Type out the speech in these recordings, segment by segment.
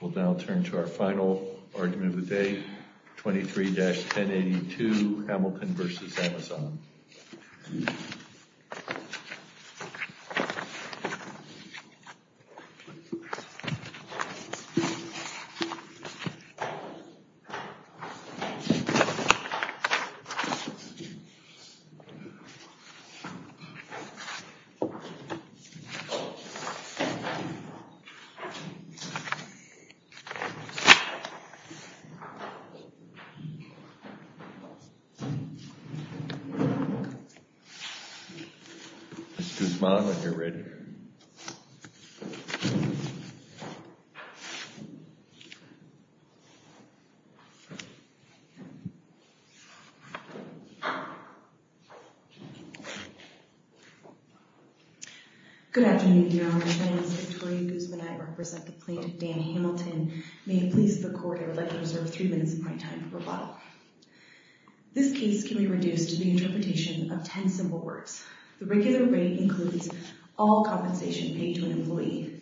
We'll now turn to our final argument of the day, 23-1082, Hamilton v. Amazon. Ms. Guzman, if you're ready. Ms. Guzman, if you're ready. Good afternoon, dear audience. My name is Victoria Guzman. I represent the plaintiff, Dan Hamilton. May it please the court, I would like to reserve three minutes of my time for rebuttal. This case can be reduced to the interpretation of ten simple words. The regular rate includes all compensation paid to an employee.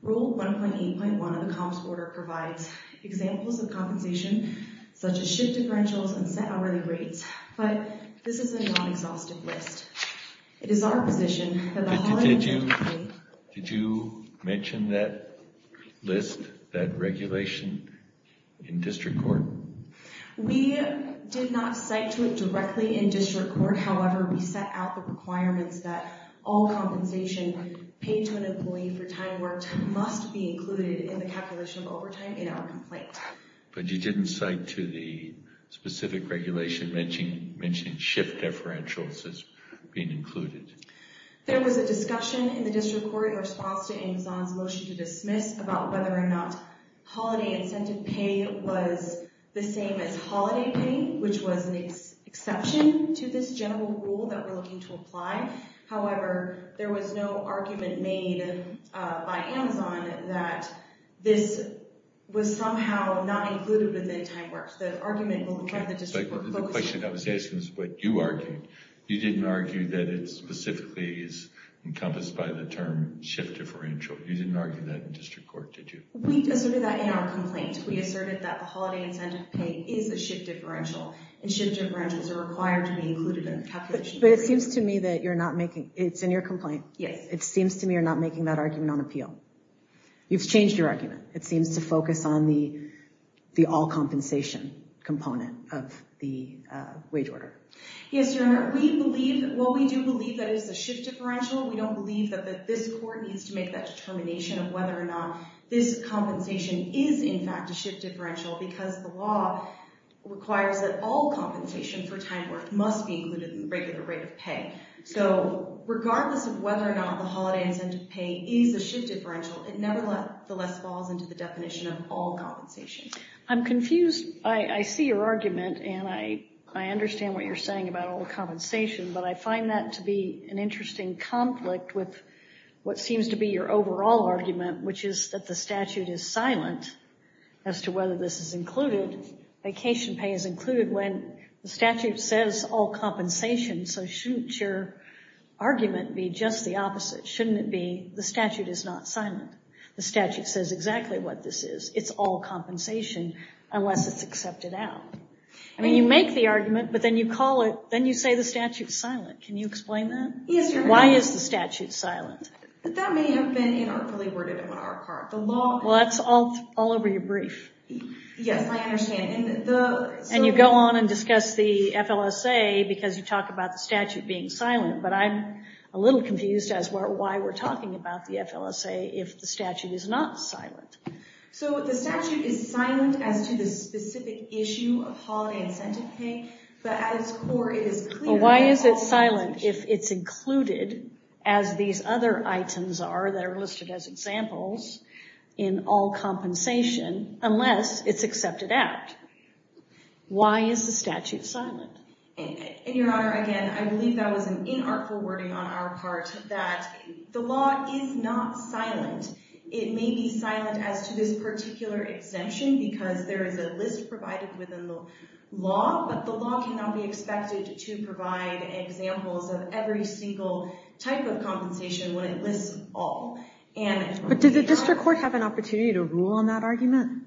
Rule 1.8.1 of the comps order provides examples of compensation, such as shift differentials and set hourly rates. But this is a non-exhaustive list. It is our position that the holiday pay— Did you mention that list, that regulation, in district court? We did not cite to it directly in district court. However, we set out the requirements that all compensation paid to an employee for time worked must be included in the calculation of overtime in our complaint. But you didn't cite to the specific regulation mentioning shift differentials as being included. There was a discussion in the district court in response to Amazon's motion to dismiss about whether or not holiday incentive pay was the same as holiday pay, which was an exception to this general rule that we're looking to apply. However, there was no argument made by Amazon that this was somehow not included within time worked. The argument from the district court— The question I was asking is what you argued. You didn't argue that it specifically is encompassed by the term shift differential. You didn't argue that in district court, did you? We asserted that in our complaint. We asserted that the holiday incentive pay is a shift differential, and shift differentials are required to be included in the calculation. But it seems to me that you're not making—it's in your complaint. Yes. It seems to me you're not making that argument on appeal. You've changed your argument. It seems to focus on the all compensation component of the wage order. Yes, Your Honor. We believe—well, we do believe that it is a shift differential. We don't believe that this court needs to make that determination of whether or not this compensation is, in fact, a shift differential because the law requires that all compensation for time worth must be included in the regular rate of pay. So regardless of whether or not the holiday incentive pay is a shift differential, it nevertheless falls into the definition of all compensation. I'm confused. I see your argument, and I understand what you're saying about all compensation, but I find that to be an interesting conflict with what seems to be your overall argument, which is that the statute is silent as to whether this is included. Vacation pay is included when the statute says all compensation, so shouldn't your argument be just the opposite? Shouldn't it be the statute is not silent? The statute says exactly what this is. It's all compensation unless it's accepted out. I mean, you make the argument, but then you call it—then you say the statute's silent. Can you explain that? Yes, Your Honor. Why is the statute silent? That may have been inartfully worded on our part. Well, that's all over your brief. Yes, I understand. And you go on and discuss the FLSA because you talk about the statute being silent, but I'm a little confused as to why we're talking about the FLSA if the statute is not silent. So the statute is silent as to the specific issue of holiday incentive pay, but at its core it is clear— Why is the statute silent? And Your Honor, again, I believe that was an inartful wording on our part that the law is not silent. It may be silent as to this particular exemption because there is a list provided within the law, but the law cannot be expected to provide examples of every single type of compensation when it lists all. But did the district court have an opportunity to rule on that argument?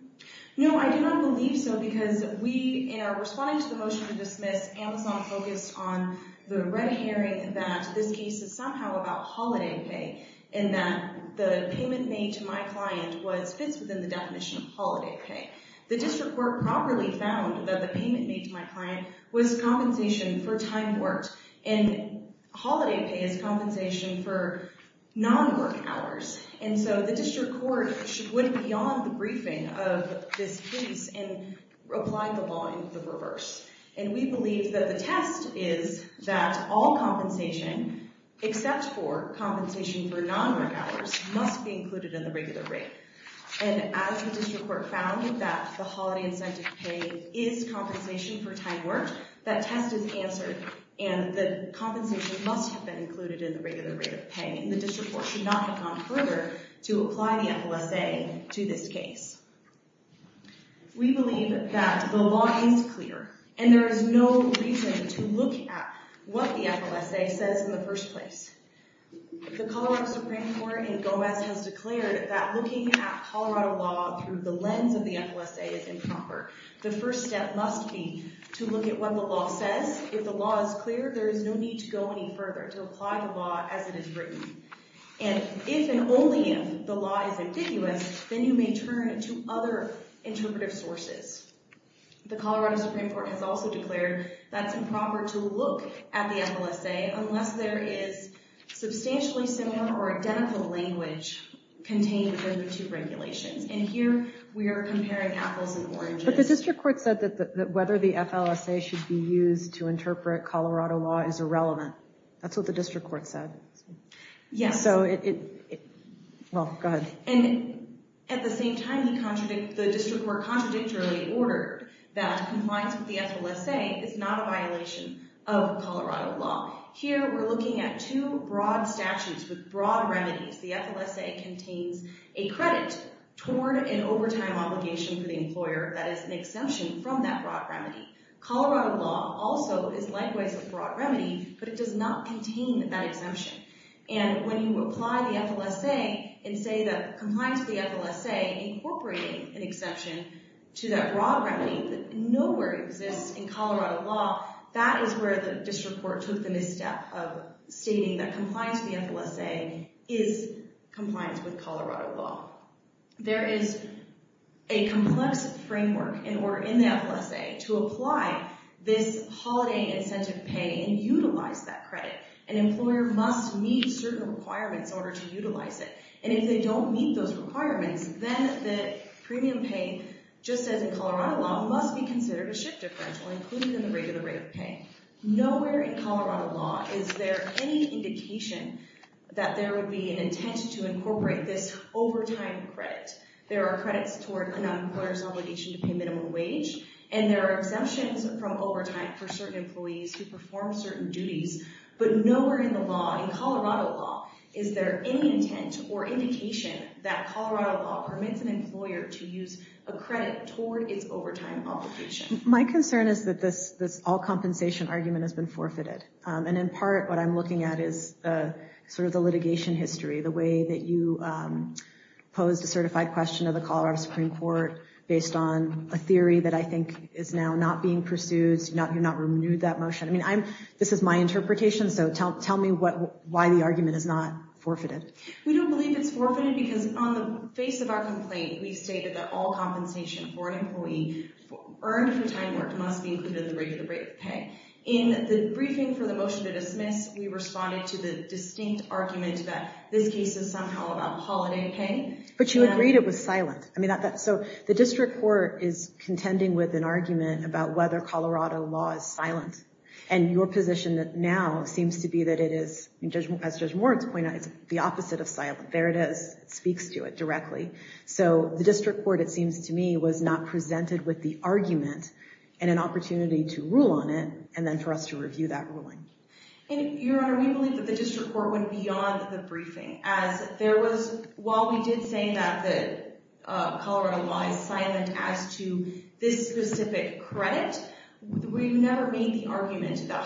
No, I do not believe so because we, in our response to the motion to dismiss, Amazon focused on the red herring that this case is somehow about holiday pay and that the payment made to my client was—fits within the definition of holiday pay. The district court properly found that the payment made to my client was compensation for time worked, and holiday pay is compensation for non-work hours. And so the district court should go beyond the briefing of this case and apply the law in the reverse. And we believe that the test is that all compensation, except for compensation for non-work hours, must be included in the regular rate. And as the district court found that the holiday incentive pay is compensation for time worked, that test is answered. And the compensation must have been included in the regular rate of pay, and the district court should not have gone further to apply the FOSA to this case. We believe that the law is clear, and there is no reason to look at what the FOSA says in the first place. The Colorado Supreme Court in Gomez has declared that looking at Colorado law through the lens of the FOSA is improper. The first step must be to look at what the law says. If the law is clear, there is no need to go any further to apply the law as it is written. And if and only if the law is ambiguous, then you may turn to other interpretive sources. The Colorado Supreme Court has also declared that it's improper to look at the FOSA unless there is substantially similar or identical language contained within the two regulations. And here we are comparing apples and oranges. But the district court said that whether the FOSA should be used to interpret Colorado law is irrelevant. That's what the district court said. Yes. So it, well, go ahead. And at the same time, the district court contradictorily ordered that compliance with the FOSA is not a violation of Colorado law. Here we're looking at two broad statutes with broad remedies. The FOSA contains a credit toward an overtime obligation for the employer that is an exemption from that broad remedy. Colorado law also is likewise a broad remedy, but it does not contain that exemption. And when you apply the FOSA and say that compliance with the FOSA incorporating an exception to that broad remedy that nowhere exists in Colorado law, that is where the district court took the misstep of stating that compliance with the FOSA is compliance with Colorado law. There is a complex framework in order in the FOSA to apply this holiday incentive pay and utilize that credit. An employer must meet certain requirements in order to utilize it. And if they don't meet those requirements, then the premium pay, just as in Colorado law, must be considered a shift differential, including in the rate of the rate of pay. Nowhere in Colorado law is there any indication that there would be an intent to incorporate this overtime credit. There are credits toward an employer's obligation to pay minimum wage, and there are exemptions from overtime for certain employees who perform certain duties. But nowhere in the law, in Colorado law, is there any intent or indication that Colorado law permits an employer to use a credit toward its overtime obligation. My concern is that this all compensation argument has been forfeited. And in part, what I'm looking at is sort of the litigation history, the way that you posed a certified question to the Colorado Supreme Court based on a theory that I think is now not being pursued. You've not renewed that motion. I mean, this is my interpretation, so tell me why the argument is not forfeited. We don't believe it's forfeited because on the face of our complaint, we stated that all compensation for an employee earned for time worked must be included in the rate of the rate of pay. In the briefing for the motion to dismiss, we responded to the distinct argument that this case is somehow about holiday pay. But you agreed it was silent. So the district court is contending with an argument about whether Colorado law is silent. And your position now seems to be that it is, as Judge Moritz pointed out, the opposite of silent. There it is. It speaks to it directly. So the district court, it seems to me, was not presented with the argument and an opportunity to rule on it and then for us to review that ruling. Your Honor, we believe that the district court went beyond the briefing. While we did say that Colorado law is silent as to this specific credit, we've never made the argument that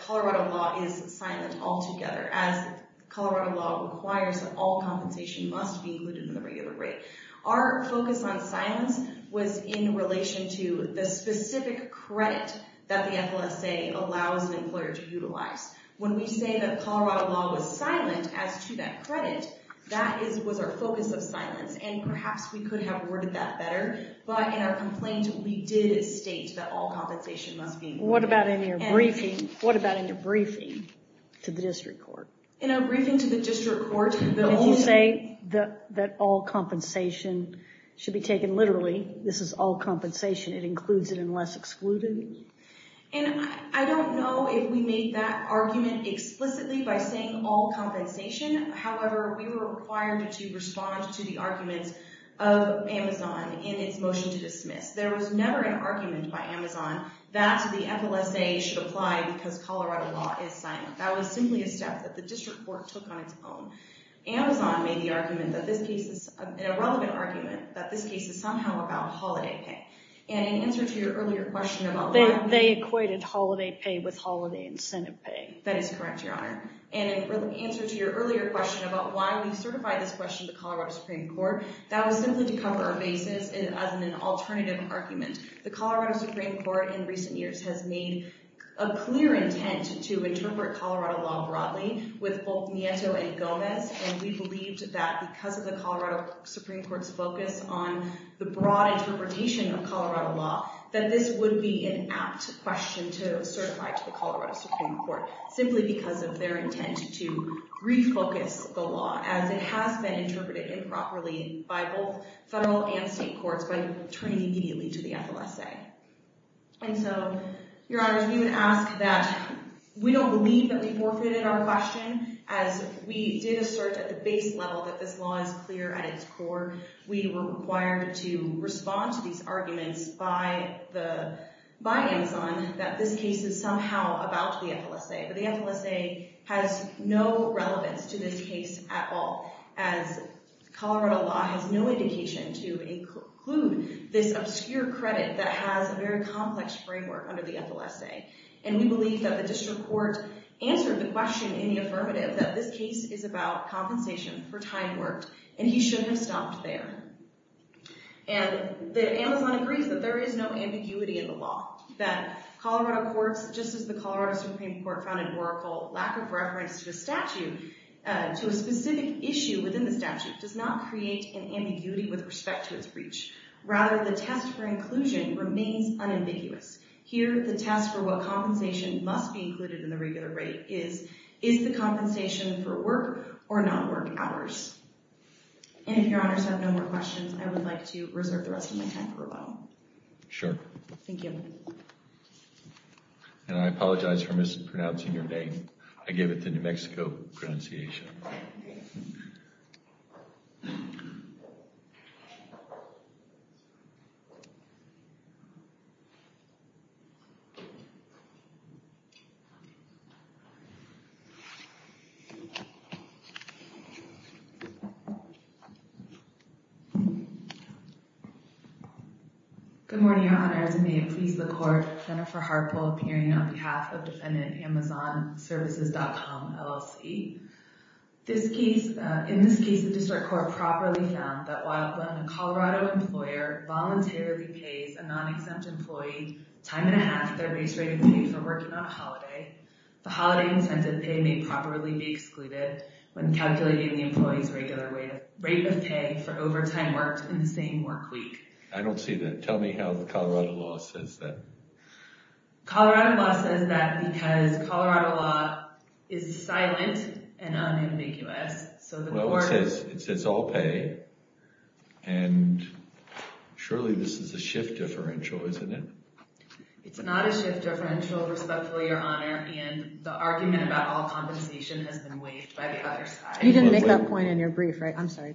Colorado law is silent altogether. As Colorado law requires that all compensation must be included in the regular rate. Our focus on silence was in relation to the specific credit that the FLSA allows an employer to utilize. When we say that Colorado law was silent as to that credit, that was our focus of silence. And perhaps we could have worded that better. But in our complaint, we did state that all compensation must be included. What about in your briefing? What about in your briefing to the district court? In our briefing to the district court, the only thing that all compensation should be taken literally, this is all compensation. It includes it unless excluded. And I don't know if we made that argument explicitly by saying all compensation. However, we were required to respond to the arguments of Amazon in its motion to dismiss. There was never an argument by Amazon that the FLSA should apply because Colorado law is silent. That was simply a step that the district court took on its own. Amazon made the argument that this case is—an irrelevant argument—that this case is somehow about holiday pay. And in answer to your earlier question about why— They equated holiday pay with holiday incentive pay. That is correct, Your Honor. And in answer to your earlier question about why we certified this question to Colorado Supreme Court, that was simply to cover our bases as an alternative argument. The Colorado Supreme Court in recent years has made a clear intent to interpret Colorado law broadly with both Nieto and Gomez. And we believed that because of the Colorado Supreme Court's focus on the broad interpretation of Colorado law, that this would be an apt question to certify to the Colorado Supreme Court simply because of their intent to refocus the law, as it has been interpreted improperly by both federal and state courts by turning immediately to the FLSA. And so, Your Honor, if you would ask that we don't believe that we forfeited our question, as we did assert at the base level that this law is clear at its core, we were required to respond to these arguments by Amazon that this case is somehow about the FLSA. But the FLSA has no relevance to this case at all, as Colorado law has no indication to include this obscure credit that has a very complex framework under the FLSA. And we believe that the district court answered the question in the affirmative that this case is about compensation for time worked, and he shouldn't have stopped there. And Amazon agrees that there is no ambiguity in the law, that Colorado courts, just as the Colorado Supreme Court found in Oracle, lack of reference to a specific issue within the statute does not create an ambiguity with respect to its reach. Rather, the test for inclusion remains unambiguous. Here, the test for what compensation must be included in the regular rate is, is the compensation for work or not work hours? And if your honors have no more questions, I would like to reserve the rest of my time for a while. Sure. Thank you. And I apologize for mispronouncing your name. I gave it the New Mexico pronunciation. Good morning, your honors. May it please the court, Jennifer Harpo, appearing on behalf of defendant AmazonServices.com, LLC. In this case, the district court properly found that while when a Colorado employer voluntarily pays a non-exempt employee a time and a half of their race-rated pay for working on a holiday, the holiday incentive pay may properly be excluded when calculating the employee's regular rate of pay for overtime work in the same work week. I don't see that. Tell me how the Colorado law says that. Colorado law says that because Colorado law is silent and unambiguous. Well, it says all pay, and surely this is a shift differential, isn't it? It's not a shift differential, respectfully, your honor, and the argument about all compensation has been waived by the other side. You didn't make that point in your brief, right? I'm sorry.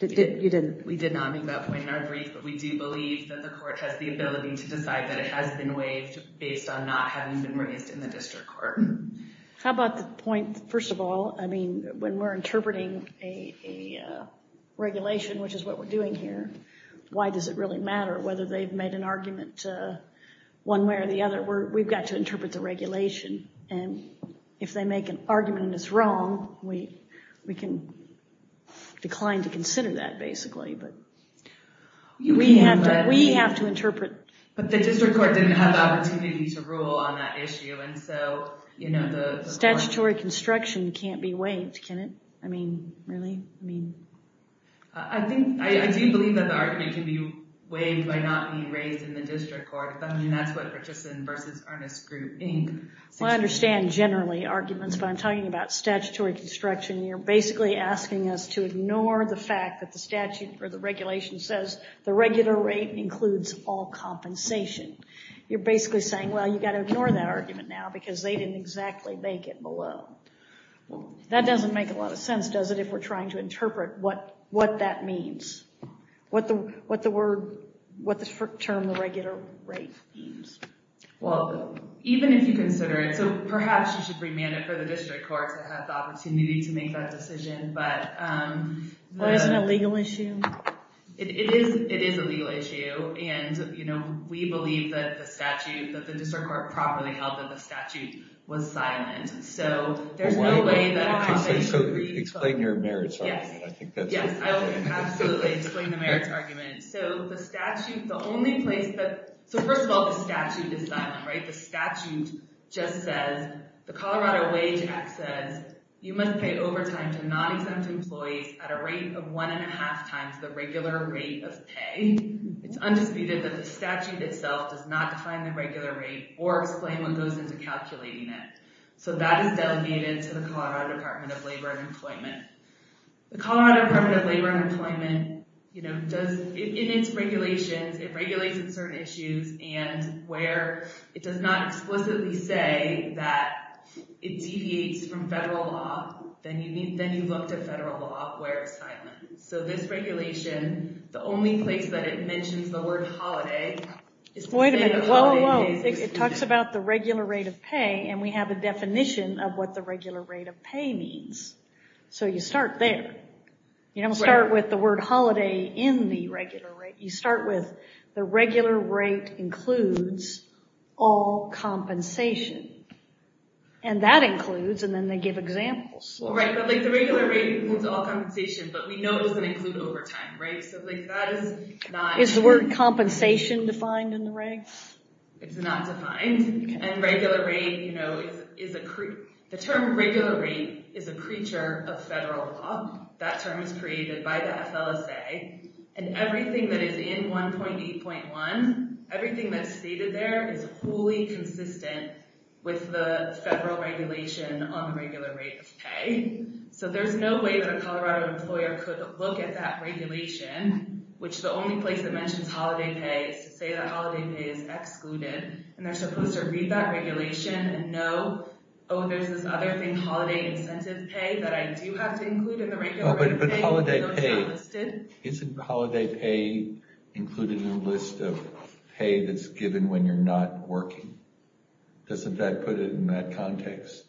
You didn't. We did not make that point in our brief, but we do believe that the court has the ability to decide that it has been waived based on not having been raised in the district court. How about the point, first of all, I mean, when we're interpreting a regulation, which is what we're doing here, why does it really matter whether they've made an argument one way or the other? We've got to interpret the regulation, and if they make an argument and it's wrong, we can decline to consider that, basically. We have to interpret. But the district court didn't have the opportunity to rule on that issue. Statutory construction can't be waived, can it? I mean, really? I do believe that the argument can be waived by not being raised in the district court. I mean, that's what Richison v. Ernest Group, Inc. Well, I understand generally arguments, but I'm talking about statutory construction. You're basically asking us to ignore the fact that the statute or the regulation says the regular rate includes all compensation. You're basically saying, well, you've got to ignore that argument now because they didn't exactly make it below. That doesn't make a lot of sense, does it, if we're trying to interpret what that means, what the term the regular rate means. Well, even if you consider it – so perhaps you should remand it for the district court to have the opportunity to make that decision. Well, isn't it a legal issue? It is a legal issue, and we believe that the statute – that the district court properly held that the statute was silent. So there's no way that – Explain your merits argument. Yes, I will absolutely explain the merits argument. So the statute – the only place that – so first of all, the statute is silent, right? The statute just says – the Colorado Wage Act says you must pay overtime to non-exempt employees at a rate of one and a half times the regular rate of pay. It's undisputed that the statute itself does not define the regular rate or explain what goes into calculating it. So that is delegated to the Colorado Department of Labor and Employment. The Colorado Department of Labor and Employment, you know, does – in its regulations, it regulates in certain issues and where it does not explicitly say that it deviates from federal law, then you look to federal law where it's silent. So this regulation, the only place that it mentions the word holiday – Wait a minute, whoa, whoa. It talks about the regular rate of pay, and we have a definition of what the regular rate of pay means. So you start there. You don't start with the word holiday in the regular rate. You start with the regular rate includes all compensation, and that includes – and then they give examples. Right, but like the regular rate includes all compensation, but we know it doesn't include overtime, right? So like that is not – Is the word compensation defined in the regs? It's not defined. And regular rate, you know, is a – the term regular rate is a creature of federal law. That term is created by the FLSA, and everything that is in 1.8.1, everything that's stated there is wholly consistent with the federal regulation on the regular rate of pay. So there's no way that a Colorado employer could look at that regulation, which the only place that mentions holiday pay is to say that holiday pay is excluded, and they're supposed to read that regulation and know, oh, there's this other thing, holiday incentive pay, that I do have to include in the regular rate of pay. But holiday pay, isn't holiday pay included in the list of pay that's given when you're not working? Doesn't that put it in that context?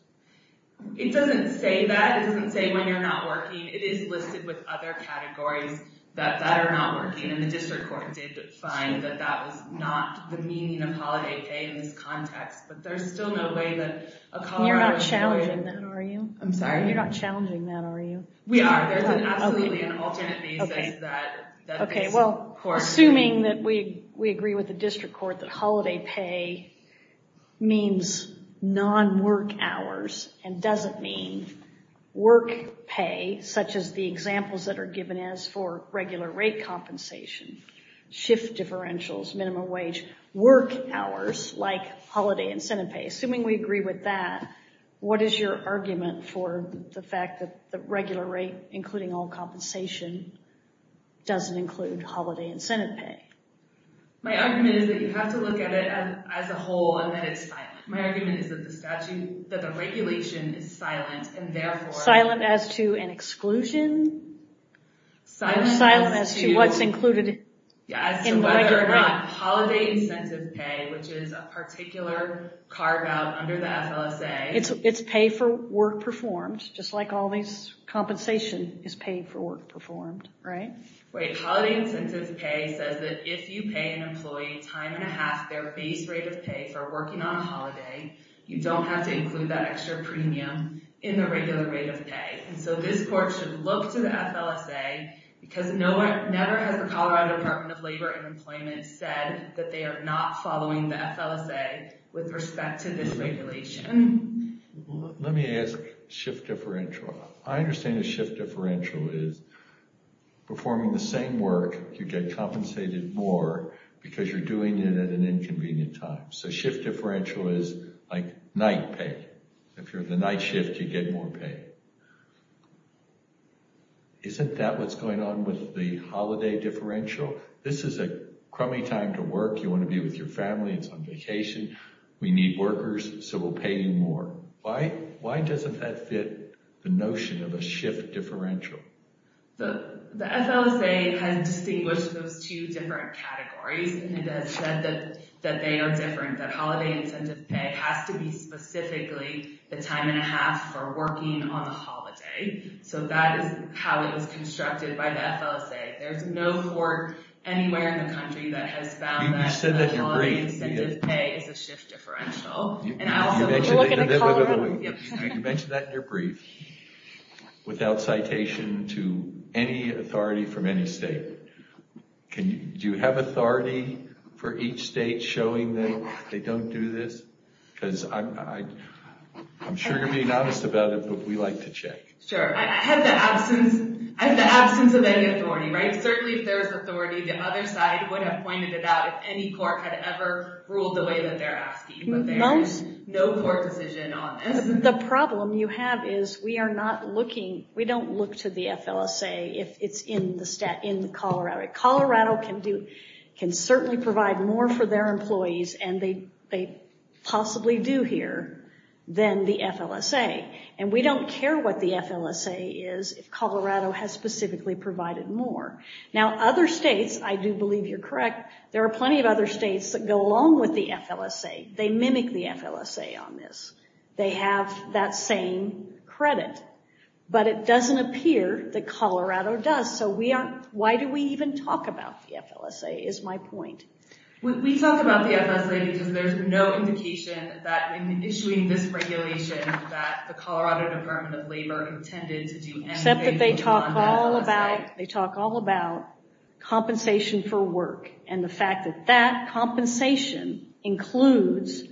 It doesn't say that. It doesn't say when you're not working. It is listed with other categories that are not working, and the district court did find that that was not the meaning of holiday pay in this context. But there's still no way that a Colorado employer – You're not challenging that, are you? I'm sorry? You're not challenging that, are you? We are. There's absolutely an alternate basis that this court – and doesn't mean work pay, such as the examples that are given as for regular rate compensation, shift differentials, minimum wage, work hours, like holiday incentive pay. Assuming we agree with that, what is your argument for the fact that the regular rate, including all compensation, doesn't include holiday incentive pay? My argument is that you have to look at it as a whole and that it's fine. My argument is that the regulation is silent, and therefore – Silent as to an exclusion? Silent as to what's included in the regular rate. Whether or not holiday incentive pay, which is a particular carve-out under the FLSA – It's pay for work performed, just like all this compensation is paid for work performed, right? Right. Holiday incentive pay says that if you pay an employee time and a half their base rate of pay for working on a holiday, you don't have to include that extra premium in the regular rate of pay. And so this court should look to the FLSA, because never has the Colorado Department of Labor and Employment said that they are not following the FLSA with respect to this regulation. Let me ask shift differential. I understand that shift differential is performing the same work, you get compensated more because you're doing it at an inconvenient time. So shift differential is like night pay. If you're the night shift, you get more pay. Isn't that what's going on with the holiday differential? This is a crummy time to work, you want to be with your family, it's on vacation, we need workers, so we'll pay you more. Why doesn't that fit the notion of a shift differential? The FLSA has distinguished those two different categories and has said that they are different. That holiday incentive pay has to be specifically the time and a half for working on a holiday. So that is how it was constructed by the FLSA. There's no court anywhere in the country that has found that holiday incentive pay is a shift differential. You mentioned that in your brief, without citation to any authority from any state. Do you have authority for each state showing that they don't do this? Because I'm sure you're being honest about it, but we like to check. Certainly if there was authority, the other side would have pointed it out if any court had ever ruled the way that they're asking. But there is no court decision on this. The problem you have is we don't look to the FLSA if it's in Colorado. Colorado can certainly provide more for their employees, and they possibly do here, than the FLSA. And we don't care what the FLSA is if Colorado has specifically provided more. Now other states, I do believe you're correct, there are plenty of other states that go along with the FLSA. They mimic the FLSA on this. They have that same credit. But it doesn't appear that Colorado does, so why do we even talk about the FLSA is my point. We talk about the FLSA because there's no indication that in issuing this regulation that the Colorado Department of Labor intended to do anything with the FLSA. Except that they talk all about compensation for work, and the fact that that compensation includes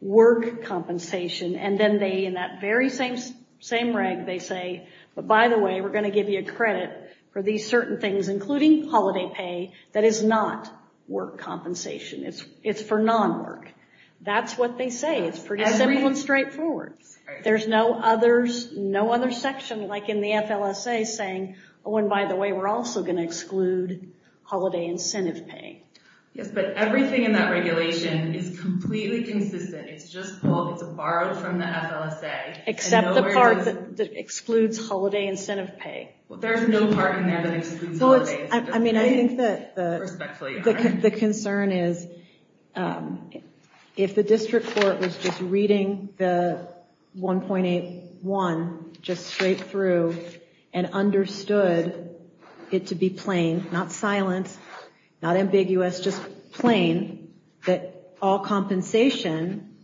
work compensation. And then they, in that very same reg, they say, but by the way, we're going to give you credit for these certain things, including holiday pay, that is not work compensation. It's for non-work. That's what they say. It's pretty simple and straightforward. There's no other section like in the FLSA saying, oh, and by the way, we're also going to exclude holiday incentive pay. Yes, but everything in that regulation is completely consistent. It's just borrowed from the FLSA. Except the part that excludes holiday incentive pay. There's no part in that that excludes holiday incentive pay. I think that the concern is if the district court was just reading the 1.81 just straight through and understood it to be plain, not silent, not ambiguous, just plain, that all compensation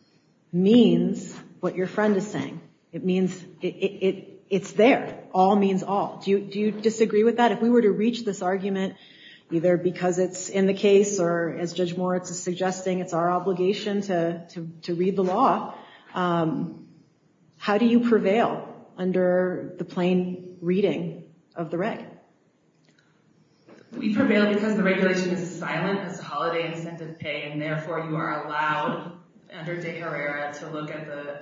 means what your friend is saying. It's there. All means all. Do you disagree with that? If we were to reach this argument, either because it's in the case, or as Judge Moritz is suggesting, it's our obligation to read the law, how do you prevail under the plain reading of the reg? We prevail because the regulation is silent as to holiday incentive pay, and therefore you are allowed under De Herrera to look at the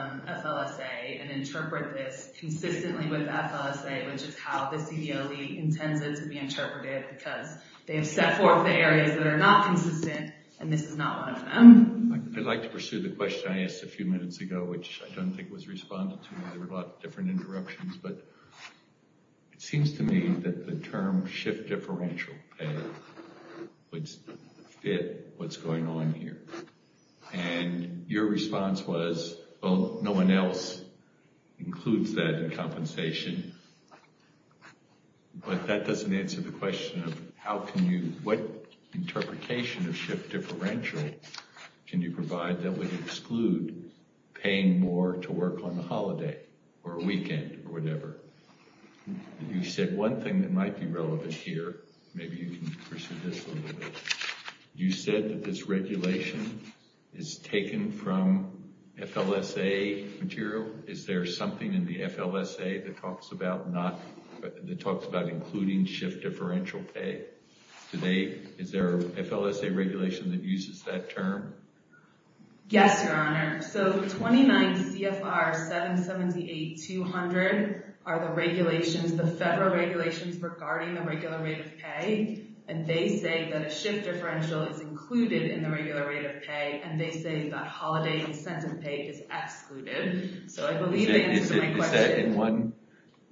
FLSA and interpret this consistently with the FLSA, which is how the CBOE intends it to be interpreted because they have set forth the areas that are not consistent, and this is not one of them. I'd like to pursue the question I asked a few minutes ago, which I don't think was responded to. There were a lot of different interruptions, but it seems to me that the term shift differential pay would fit what's going on here, and your response was, well, no one else includes that in compensation, but that doesn't answer the question of what interpretation of shift differential can you provide that would exclude paying more to work on a holiday or a weekend or whatever. You said one thing that might be relevant here, maybe you can pursue this a little bit. You said that this regulation is taken from FLSA material. Is there something in the FLSA that talks about including shift differential pay? Is there a FLSA regulation that uses that term? Yes, Your Honor. So 29 CFR 778-200 are the regulations, the federal regulations regarding the regular rate of pay, and they say that a shift differential is included in the regular rate of pay, and they say that holiday incentive pay is excluded. So I believe that answers my question.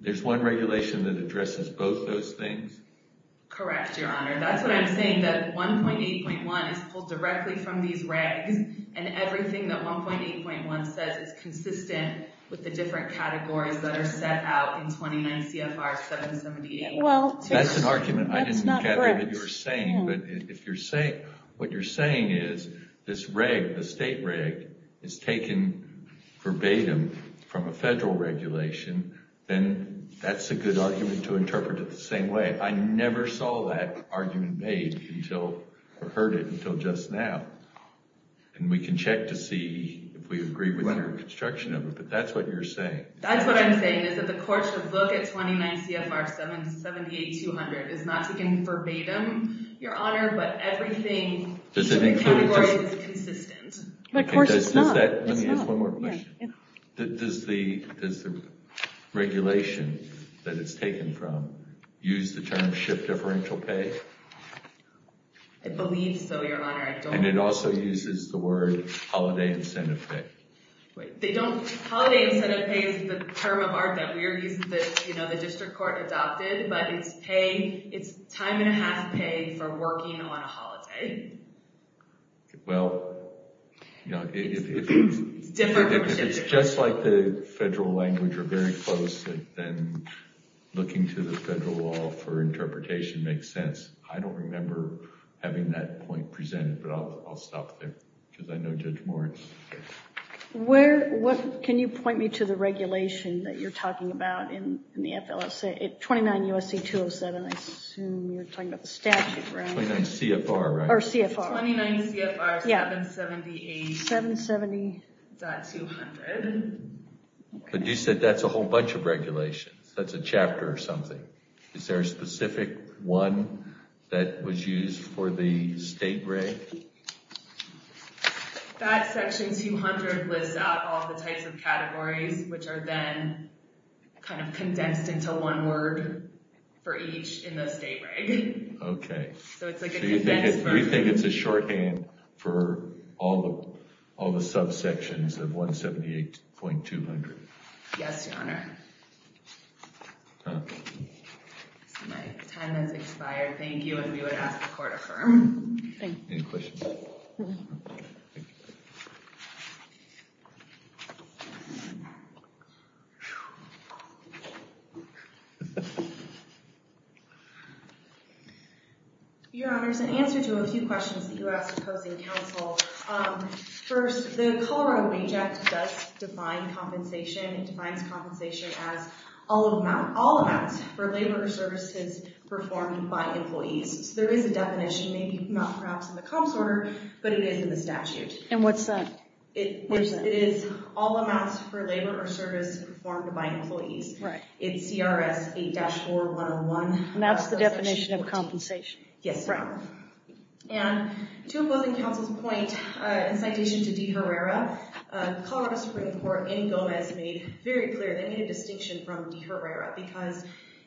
There's one regulation that addresses both those things? Correct, Your Honor. That's what I'm saying, that 1.8.1 is pulled directly from these regs, and everything that 1.8.1 says is consistent with the different categories that are set out in 29 CFR 778. That's an argument I didn't gather that you were saying, but if what you're saying is this reg, the state reg, is taken verbatim from a federal regulation, then that's a good argument to interpret it the same way. I never saw that argument made or heard it until just now. And we can check to see if we agree with your construction of it, but that's what you're saying. That's what I'm saying, is that the courts should look at 29 CFR 778-200. It's not taken verbatim, Your Honor, but everything in the categories is consistent. Let me ask one more question. Does the regulation that it's taken from use the term shift differential pay? I believe so, Your Honor. And it also uses the word holiday incentive pay. Holiday incentive pay is the term of art that we're using that the district court adopted, but it's time and a half pay for working on a holiday. Well, if it's just like the federal language or very close, then looking to the federal law for interpretation makes sense. I don't remember having that point presented, but I'll stop there because I know Judge Moritz. Can you point me to the regulation that you're talking about in the FLSA, 29 USC 207? I assume you're talking about the statute, right? 29 CFR, right? Or CFR. 29 CFR 778-200. But you said that's a whole bunch of regulations. That's a chapter or something. Is there a specific one that was used for the state reg? That section 200 lists out all the types of categories, which are then kind of condensed into one word for each in the state reg. OK. So it's like a condensed version. So you think it's a shorthand for all the subsections of 178.200? Yes, Your Honor. My time has expired. Thank you, and we would ask the court to affirm. Any questions? No. Thank you. Your Honor, as an answer to a few questions that you asked opposing counsel, first, the Colorado Wage Act does define compensation. It defines compensation as all amounts for labor or services performed by employees. So there is a definition, maybe not perhaps in the comps order, but it is in the statute. And what's that? It is all amounts for labor or service performed by employees. It's CRS 8-4101. And that's the definition of compensation? Yes, Your Honor. And to opposing counsel's point, in citation to De Herrera, Colorado Supreme Court in Gomez made very clear, they made a distinction from De Herrera, because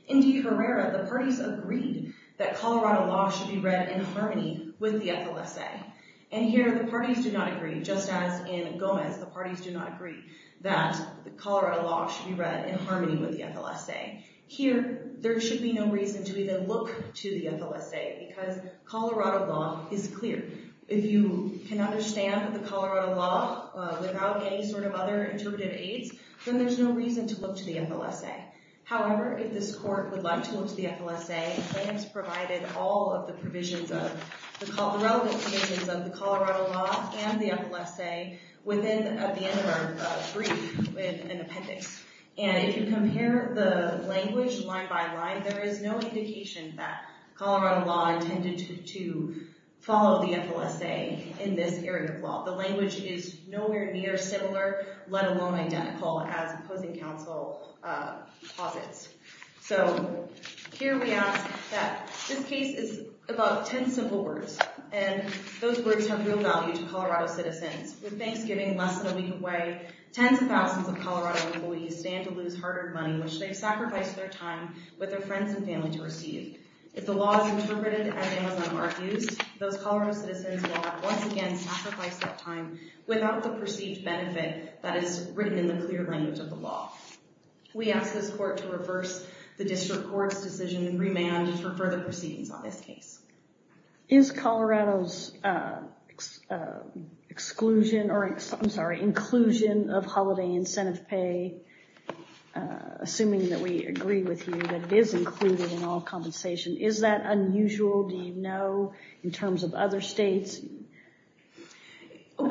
in De Herrera, the parties agreed that Colorado law should be read in harmony with the FLSA. And here, the parties do not agree, just as in Gomez, the parties do not agree that Colorado law should be read in harmony with the FLSA. Here, there should be no reason to even look to the FLSA, because Colorado law is clear. If you can understand the Colorado law without any sort of other interpretive aids, then there's no reason to look to the FLSA. However, if this court would like to look to the FLSA, the plaintiff's provided all of the provisions, the relevant provisions of the Colorado law and the FLSA, within the end of our brief with an appendix. And if you compare the language line by line, there is no indication that Colorado law intended to follow the FLSA in this area of law. The language is nowhere near similar, let alone identical, as opposing counsel posits. So, here we ask that this case is about 10 simple words, and those words have real value to Colorado citizens. With Thanksgiving less than a week away, tens of thousands of Colorado employees stand to lose hard-earned money, which they've sacrificed their time with their friends and family to receive. If the law is interpreted as Amazon Mark used, those Colorado citizens will have once again sacrificed that time without the perceived benefit that is written in the clear language of the law. We ask this court to reverse the district court's decision and remand for further proceedings on this case. Is Colorado's exclusion, or I'm sorry, inclusion of holiday incentive pay, assuming that we agree with you that it is included in all compensation, is that unusual, do you know, in terms of other states? Do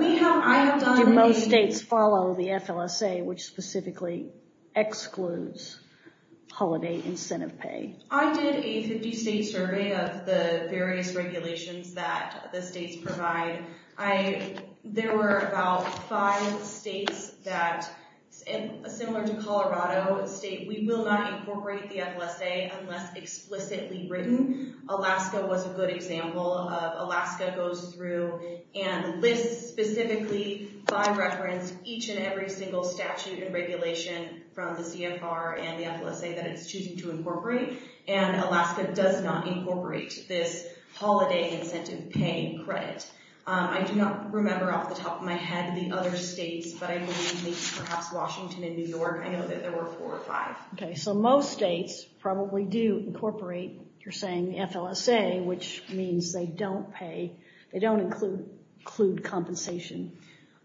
most states follow the FLSA, which specifically excludes holiday incentive pay? I did a 50-state survey of the various regulations that the states provide. There were about five states that, similar to Colorado, state, we will not incorporate the FLSA unless explicitly written. Alaska was a good example of Alaska goes through and lists specifically by reference each and every single statute and regulation from the CFR and the FLSA that it's choosing to incorporate, and Alaska does not incorporate this holiday incentive pay credit. I do not remember off the top of my head the other states, but I believe perhaps Washington and New York, I know that there were four or five. Okay, so most states probably do incorporate, you're saying, the FLSA, which means they don't pay, they don't include compensation,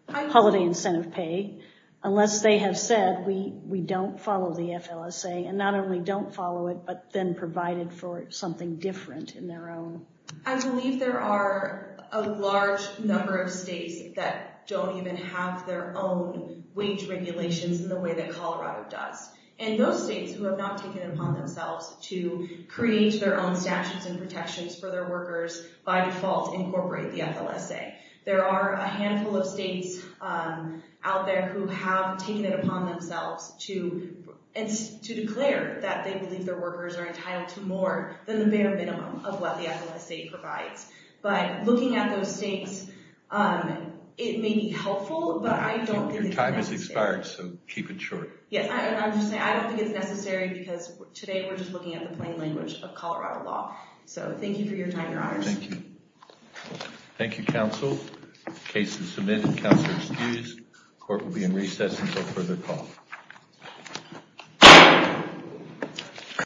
holiday incentive pay, unless they have said we don't follow the FLSA, and not only don't follow it, but then provide it for something different in their own. I believe there are a large number of states that don't even have their own wage regulations in the way that Colorado does. And those states who have not taken it upon themselves to create their own statutes and protections for their workers by default incorporate the FLSA. There are a handful of states out there who have taken it upon themselves to declare that they believe their workers are entitled to more than the bare minimum of what the FLSA provides. But looking at those states, it may be helpful, but I don't think it's necessary. Your time has expired, so keep it short. Yes, and I'm just saying I don't think it's necessary because today we're just looking at the plain language of Colorado law. So thank you for your time, Your Honors. Thank you. Thank you, counsel. Case is submitted. Counsel is excused. Court will be in recess until further call.